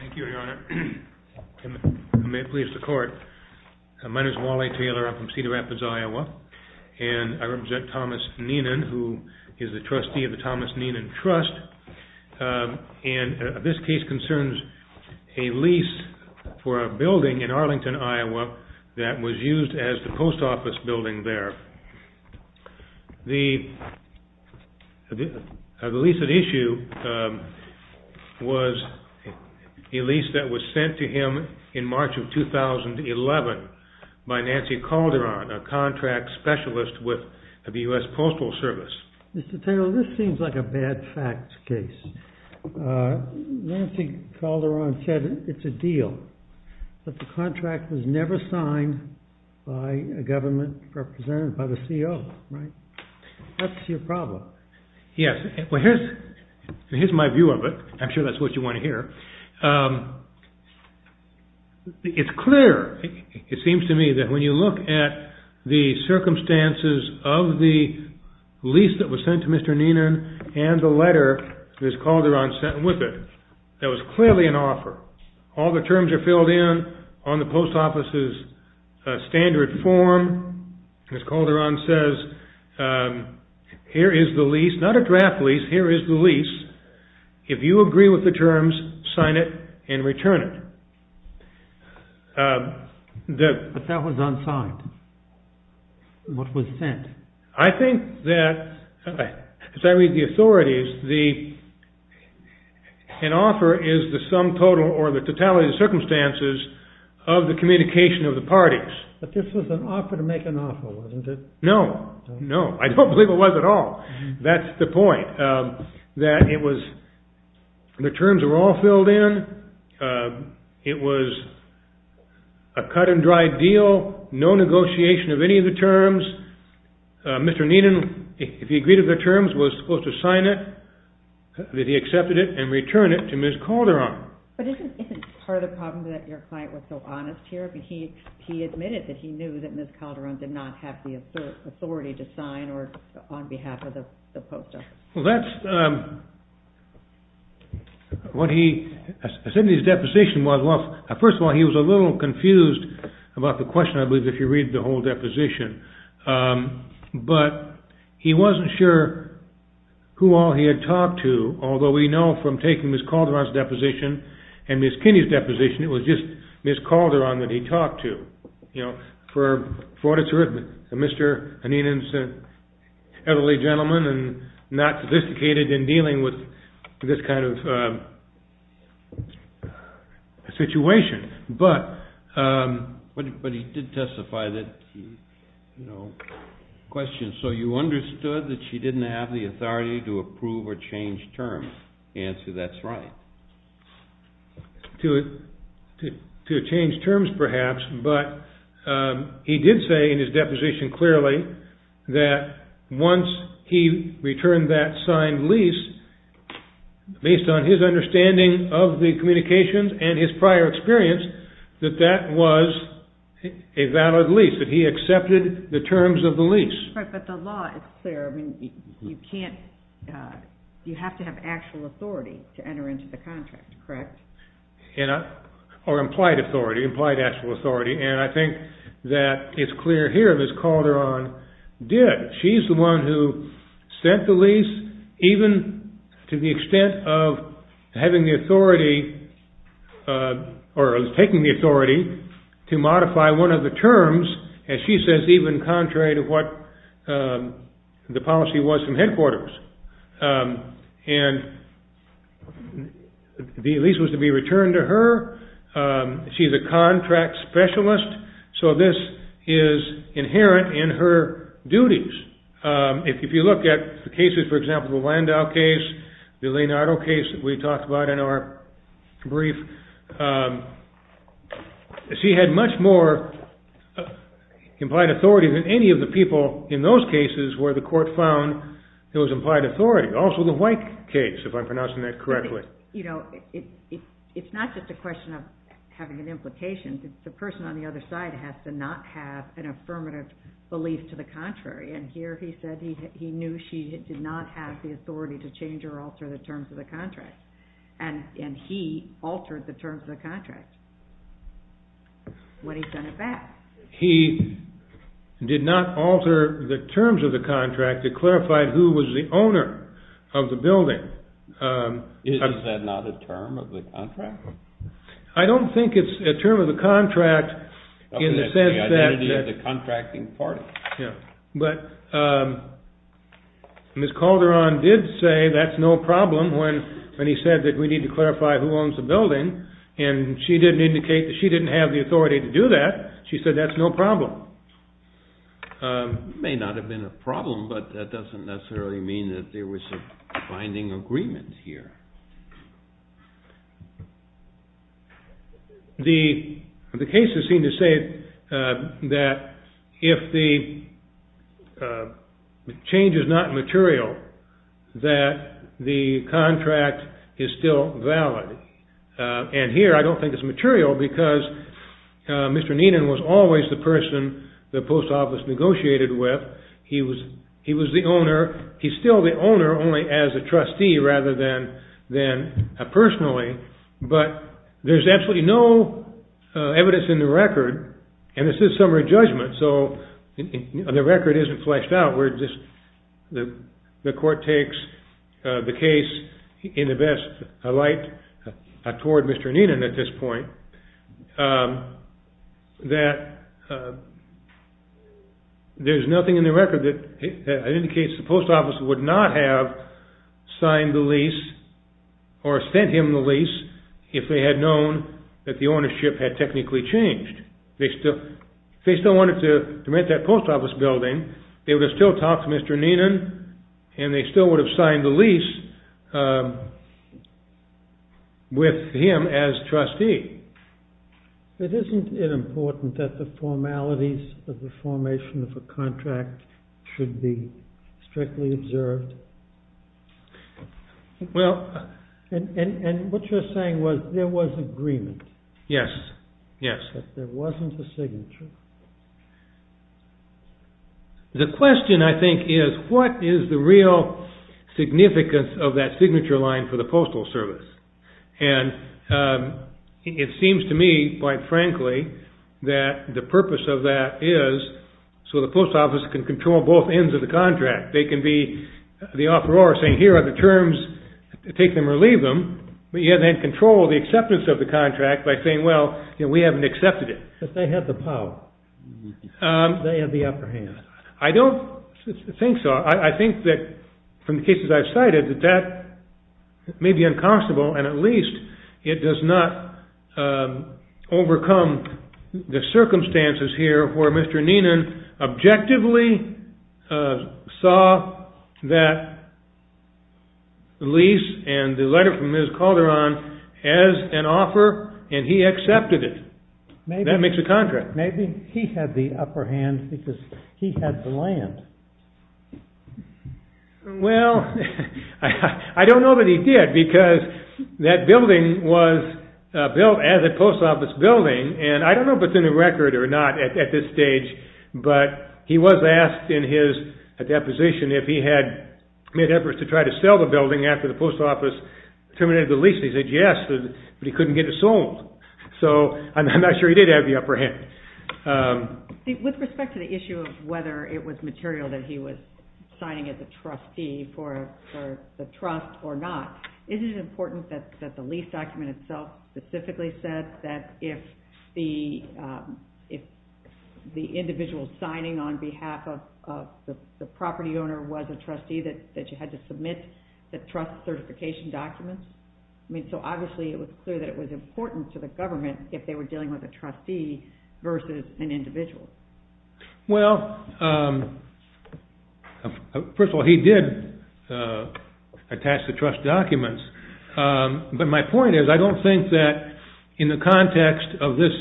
Thank you, Your Honor, and may it please the Court. My name is Wally Taylor. I'm from Cedar Rapids, Iowa, and I represent Thomas Neenan, who is the trustee of the Thomas Neenan Trust, and this case concerns a lease for a building in Arlington, Iowa, that was used as the post office building there. The lease at issue was a lease that was sent to him in March of 2011 by Nancy Calderon, a contract specialist with the U.S. Postal Service. Mr. Taylor, this seems like a bad facts case. Nancy Calderon said it's a deal, but the contract was never signed by a government representative, by the CEO, right? That's your problem. Yes. Well, here's my view of it. I'm sure that's what you want to hear. It's clear, it seems to me, that when you look at the circumstances of the lease that was sent to Mr. Neenan and the letter Ms. Calderon sent with it, that was clearly an offer. All the terms are filled in on the post office's standard form. Ms. Calderon says, here is the lease, not a draft lease, here is the lease. If you agree with the terms, sign it and return it. But that was unsigned. What was sent? I think that, as I read the authorities, an offer is the sum total or the totality of the circumstances of the communication of the parties. But this was an offer to make an offer, wasn't it? No. No. I don't believe it was at all. That's the point. The terms were all filled in. It was a cut and dry deal, no negotiation of any of the terms. Mr. Neenan, if he agreed to the terms, was supposed to sign it, that he accepted it, and return it to Ms. Calderon. But isn't part of the problem that your client was so honest here? He admitted that he knew that Ms. Calderon did not have the authority to sign on behalf of the post office. Well, that's what he said in his deposition. First of all, he was a little confused about the question, I believe, if you read the whole deposition. But he wasn't sure who all he had talked to, although we know from taking Ms. Calderon's deposition and Ms. Kinney's deposition, it was just Ms. Calderon that he talked to. You know, for Mr. Neenan's elderly gentleman and not sophisticated in dealing with this kind of situation. But he did testify that, you know, question, so you understood that she didn't have the authority to approve or change terms. Answer, that's right. To change terms, perhaps, but he did say in his deposition clearly that once he returned that signed lease, based on his understanding of the communications and his prior experience, that that was a valid lease, that he accepted the terms of the lease. But the law is clear. I mean, you can't, you have to have actual authority to enter into the contract, correct? Or implied authority, implied actual authority, and I think that it's clear here that Ms. Calderon did. As she says, even contrary to what the policy was from headquarters, and the lease was to be returned to her. She's a contract specialist, so this is inherent in her duties. If you look at the cases, for example, the Landau case, the Leonardo case that we talked about in our brief, she had much more implied authority than any of the people in those cases where the court found there was implied authority. Also the White case, if I'm pronouncing that correctly. It's not just a question of having an implication, the person on the other side has to not have an affirmative belief to the contrary. And here he said he knew she did not have the authority to change or alter the terms of the contract. And he altered the terms of the contract when he sent it back. He did not alter the terms of the contract to clarify who was the owner of the building. Is that not a term of the contract? I don't think it's a term of the contract in the sense that... That's the identity of the contracting party. Yeah, but Ms. Calderon did say that's no problem when he said that we need to clarify who owns the building. And she didn't indicate that she didn't have the authority to do that. She said that's no problem. It may not have been a problem, but that doesn't necessarily mean that there was a binding agreement here. The cases seem to say that if the change is not material, that the contract is still valid. And here I don't think it's material because Mr. Neenan was always the person the post office negotiated with. He was the owner. He's still the owner only as a trustee rather than personally. But there's absolutely no evidence in the record, and this is summary judgment, so the record isn't fleshed out where the court takes the case in the best light toward Mr. Neenan at this point, that there's nothing in the record that indicates the post office would not have signed the lease or sent him the lease if they had known that the ownership had technically changed. If they still wanted to rent that post office building, they would have still talked to Mr. Neenan and they still would have signed the lease with him as trustee. It isn't it important that the formalities of the formation of a contract should be strictly observed? And what you're saying was there was agreement. Yes, yes. That there wasn't a signature. The question, I think, is what is the real significance of that signature line for the Postal Service? And it seems to me, quite frankly, that the purpose of that is so the post office can control both ends of the contract. They can be the offeror saying, here are the terms, take them or leave them, but yet they control the acceptance of the contract by saying, well, we haven't accepted it. Because they have the power. They have the upper hand. I don't think so. I think that, from the cases I've cited, that that may be unconscionable, and at least it does not overcome the circumstances here where Mr. Neenan objectively saw that lease and the letter from Ms. Calderon as an offer and he accepted it. That makes a contract. Maybe he had the upper hand because he had the land. Well, I don't know that he did because that building was built as a post office building, and I don't know if it's in the record or not at this stage, but he was asked in his deposition if he had made efforts to try to sell the building after the post office terminated the lease. So I'm not sure he did have the upper hand. With respect to the issue of whether it was material that he was signing as a trustee for the trust or not, isn't it important that the lease document itself specifically said that if the individual signing on behalf of the property owner was a trustee that you had to submit the trust certification documents? I mean, so obviously it was clear that it was important to the government if they were dealing with a trustee versus an individual. Well, first of all, he did attach the trust documents, but my point is I don't think that in the context of this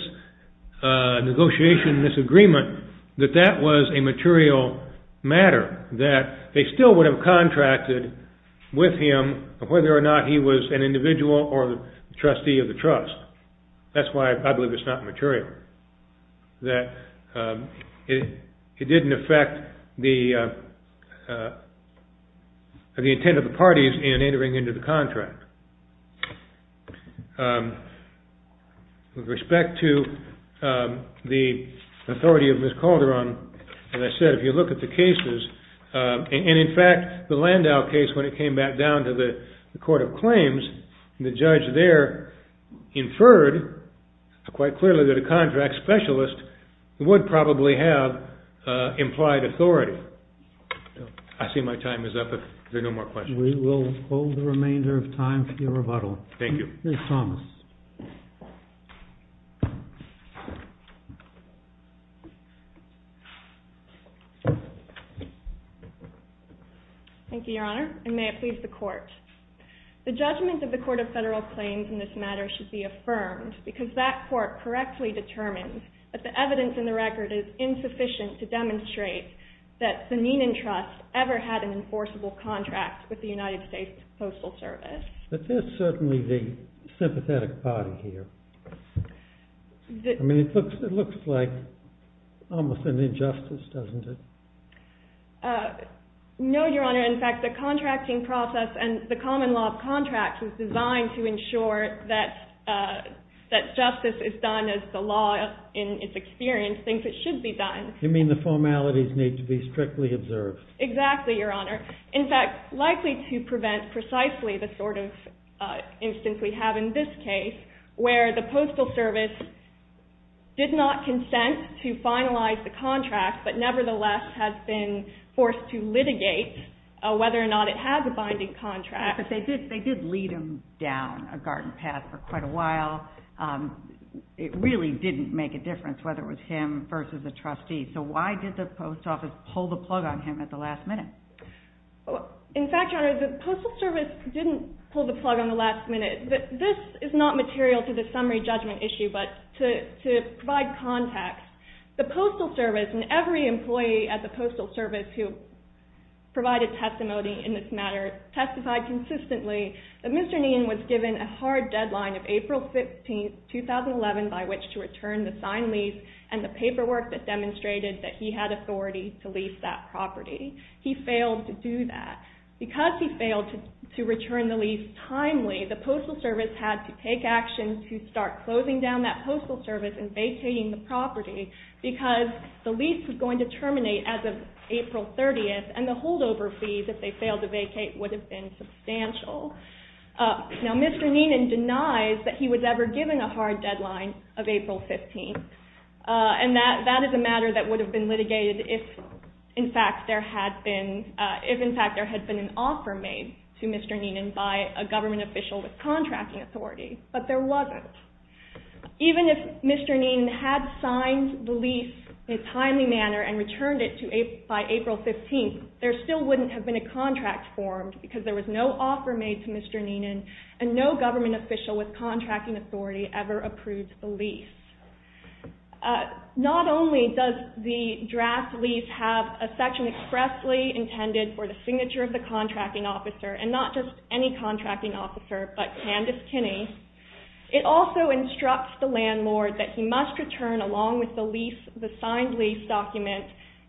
negotiation, this agreement, that that was a material matter that they still would have contracted with him on whether or not he was an individual or the trustee of the trust. That's why I believe it's not material, that it didn't affect the intent of the parties in entering into the contract. With respect to the authority of Ms. Calderon, as I said, if you look at the cases, and in fact, the Landau case, when it came back down to the Court of Claims, the judge there inferred quite clearly that a contract specialist would probably have implied authority. I see my time is up if there are no more questions. We will hold the remainder of time for your rebuttal. Thank you. Ms. Thomas. Thank you, Your Honor, and may it please the Court. The judgment of the Court of Federal Claims in this matter should be affirmed because that Court correctly determined that the evidence in the record is insufficient to demonstrate that the Neenan Trust ever had an enforceable contract with the United States Postal Service. But there's certainly the sympathetic party here. I mean, it looks like almost an injustice, doesn't it? No, Your Honor. In fact, the contracting process and the common law of contracts is designed to ensure that justice is done as the law in its experience thinks it should be done. You mean the formalities need to be strictly observed? Exactly, Your Honor. In fact, likely to prevent precisely the sort of instance we have in this case where the Postal Service did not consent to finalize the contract but nevertheless has been forced to litigate whether or not it has a binding contract. But they did lead him down a garden path for quite a while. It really didn't make a difference whether it was him versus the trustee. So why did the Post Office pull the plug on him at the last minute? In fact, Your Honor, the Postal Service didn't pull the plug on the last minute. This is not material to the summary judgment issue, but to provide context. The Postal Service and every employee at the Postal Service who provided testimony in this matter testified consistently that Mr. Neen was given a hard deadline of April 15, 2011 by which to return the signed lease and the paperwork that demonstrated that he had authority to lease that property. He failed to do that. Because he failed to return the lease timely, the Postal Service had to take action to start closing down that Postal Service and vacating the property because the lease was going to terminate as of April 30th and the holdover fees, if they failed to vacate, would have been substantial. Now, Mr. Neenan denies that he was ever given a hard deadline of April 15th. And that is a matter that would have been litigated if, in fact, there had been an offer made to Mr. Neenan by a government official with contracting authority. But there wasn't. Even if Mr. Neenan had signed the lease in a timely manner and returned it by April 15th, there still wouldn't have been a contract formed because there was no offer made to Mr. Neenan and no government official with contracting authority ever approved the lease. Not only does the draft lease have a section expressly intended for the signature of the contracting officer and not just any contracting officer but Candace Kinney, it also instructs the landlord that he must return, along with the signed lease document,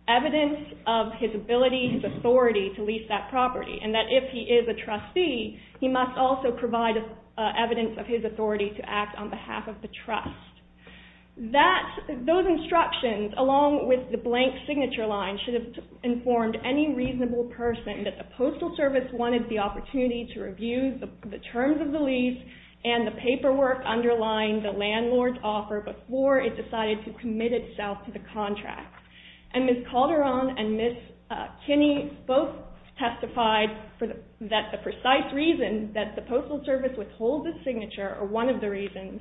evidence of his ability and authority to lease that property and that if he is a trustee, he must also provide evidence of his authority to act on behalf of the trust. Those instructions, along with the blank signature line, should have informed any reasonable person that the Postal Service wanted the opportunity to review the terms of the lease and the paperwork underlying the landlord's offer before it decided to commit itself to the contract. And Ms. Calderon and Ms. Kinney both testified that the precise reason that the Postal Service withholds the signature, or one of the reasons,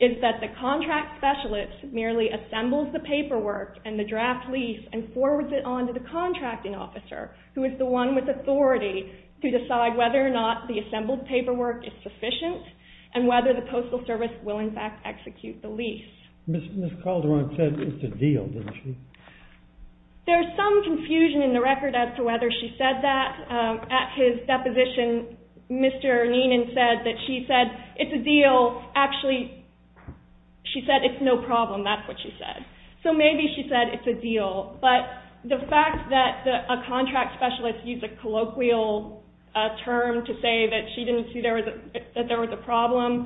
is that the contract specialist merely assembles the paperwork and the draft lease and forwards it on to the contracting officer who is the one with authority to decide whether or not the assembled paperwork is sufficient and whether the Postal Service will in fact execute the lease. Ms. Calderon said it's a deal, didn't she? There's some confusion in the record as to whether she said that. At his deposition, Mr. Neenan said that she said it's a deal. Actually, she said it's no problem. That's what she said. So maybe she said it's a deal, but the fact that a contract specialist used a colloquial term to say that she didn't see that there was a problem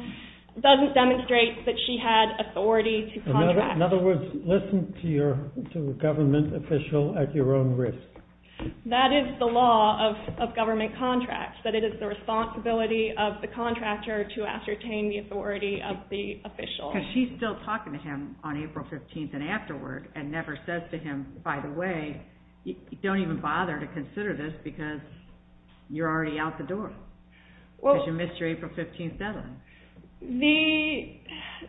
doesn't demonstrate that she had authority to contract. In other words, listen to a government official at your own risk. That is the law of government contracts, that it is the responsibility of the contractor to ascertain the authority of the official. Because she's still talking to him on April 15th and afterward and never says to him, by the way, don't even bother to consider this because you're already out the door because you missed your April 15th deadline.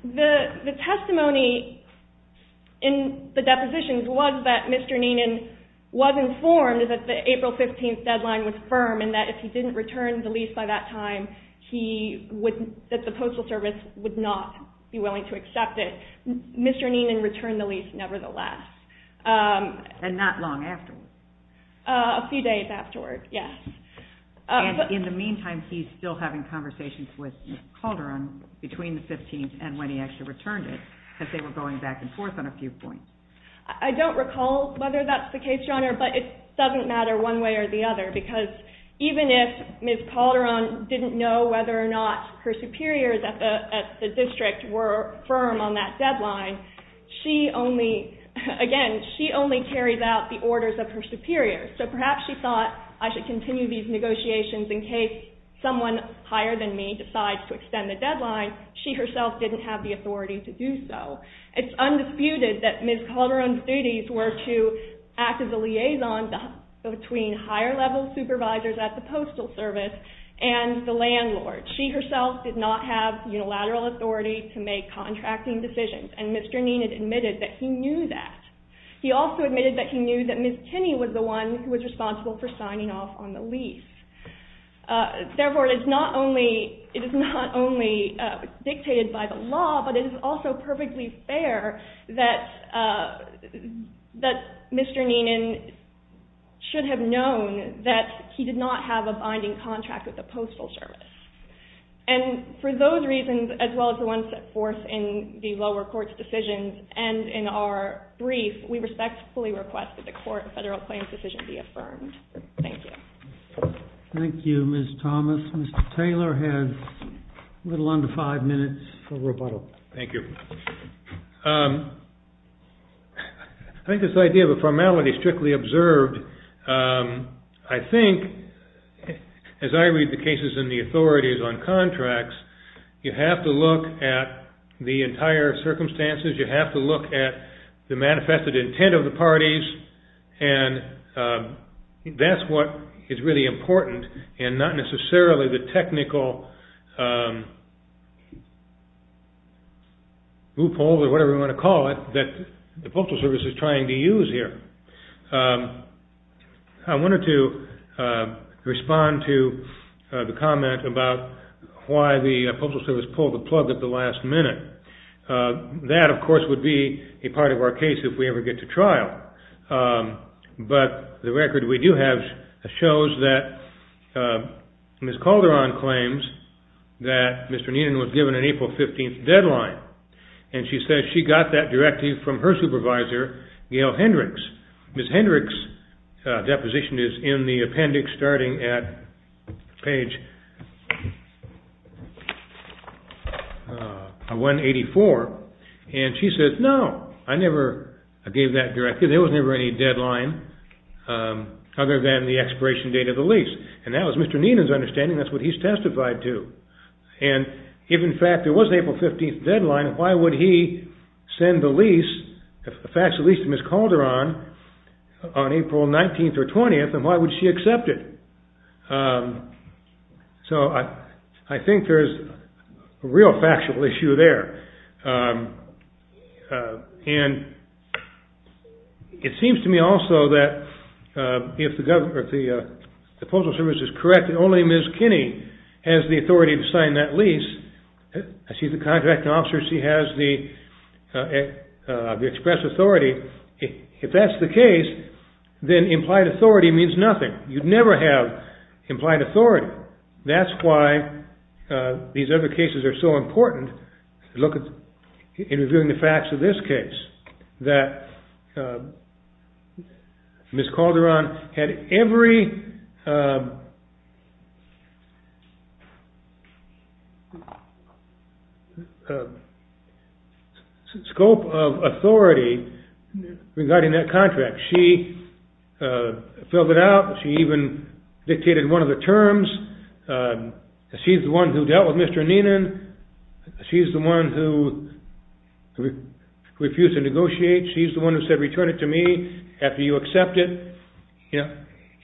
The testimony in the depositions was that Mr. Neenan was informed that the April 15th deadline was firm and that if he didn't return the lease by that time, that the Postal Service would not be willing to accept it. Mr. Neenan returned the lease nevertheless. And not long afterward. A few days afterward, yes. In the meantime, he's still having conversations with Ms. Calderon between the 15th and when he actually returned it because they were going back and forth on a few points. I don't recall whether that's the case, Your Honor, but it doesn't matter one way or the other because even if Ms. Calderon didn't know whether or not her superiors at the district were firm on that deadline, she only, again, she only carries out the orders of her superiors. So perhaps she thought, I should continue these negotiations in case someone higher than me decides to extend the deadline. She herself didn't have the authority to do so. It's undisputed that Ms. Calderon's duties were to act as a liaison between higher level supervisors at the Postal Service and the landlord. She herself did not have unilateral authority to make contracting decisions. And Mr. Neenan admitted that he knew that. He also admitted that he knew that Ms. Kinney was the one who was responsible for signing off on the lease. But it is also perfectly fair that Mr. Neenan should have known that he did not have a binding contract with the Postal Service. And for those reasons, as well as the ones that force in the lower court's decisions and in our brief, we respectfully request that the court federal claims decision be affirmed. Thank you. Thank you, Ms. Thomas. Mr. Taylor has a little under five minutes for rebuttal. Thank you. I think this idea of a formality is strictly observed. I think, as I read the cases in the authorities on contracts, you have to look at the entire circumstances. And that's what is really important and not necessarily the technical loophole or whatever you want to call it that the Postal Service is trying to use here. I wanted to respond to the comment about why the Postal Service pulled the plug at the last minute. That, of course, would be a part of our case if we ever get to trial. But the record we do have shows that Ms. Calderon claims that Mr. Neenan was given an April 15th deadline. And she says she got that directive from her supervisor, Gail Hendricks. Ms. Hendricks' deposition is in the appendix starting at page... And she says, no, I never gave that directive. There was never any deadline other than the expiration date of the lease. And that was Mr. Neenan's understanding. That's what he's testified to. And if, in fact, there was an April 15th deadline, why would he send the lease, the factual lease to Ms. Calderon, on April 19th or 20th, and why would she accept it? So I think there's a real factual issue there. And it seems to me also that if the Postal Service is correct and only Ms. Kinney has the authority to sign that lease, she's a contracting officer, she has the express authority, if that's the case, then implied authority means nothing. You'd never have implied authority. That's why these other cases are so important. Look at interviewing the facts of this case, that Ms. Calderon had every scope of authority regarding that contract. She filled it out. She even dictated one of the terms. She's the one who dealt with Mr. Neenan. She's the one who refused to negotiate. She's the one who said, return it to me after you accept it.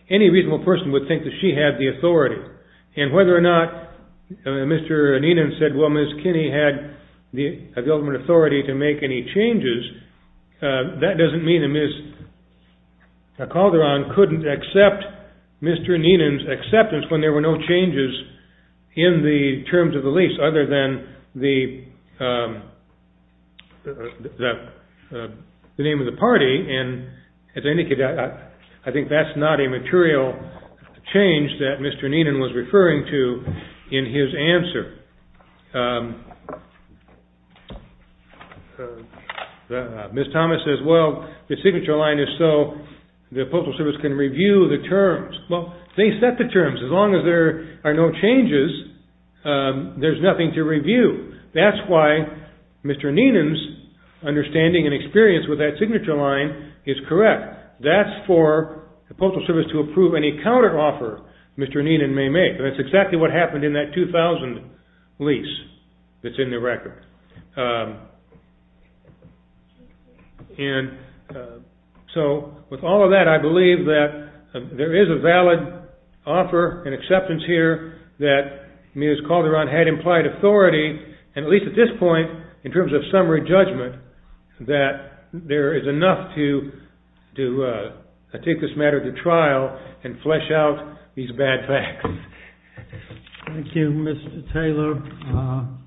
Any reasonable person would think that she had the authority. And whether or not Mr. Neenan said, well, Ms. Kinney had the ultimate authority to make any changes, that doesn't mean that Ms. Calderon couldn't accept Mr. Neenan's acceptance when there were no changes in the terms of the lease other than the name of the party. And as I indicated, I think that's not a material change that Mr. Neenan was referring to in his answer. Ms. Thomas says, well, the signature line is so the Postal Service can review the terms. Well, they set the terms. As long as there are no changes, there's nothing to review. That's why Mr. Neenan's understanding and experience with that signature line is correct. That's for the Postal Service to approve any counteroffer Mr. Neenan may make. And that's exactly what happened in that 2000 lease that's in the record. And so with all of that, I believe that there is a valid offer and acceptance here that Ms. Calderon had implied authority, and at least at this point, in terms of summary judgment, that there is enough to take this matter to trial and flesh out these bad facts. Thank you, Mr. Taylor.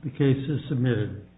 The case is submitted.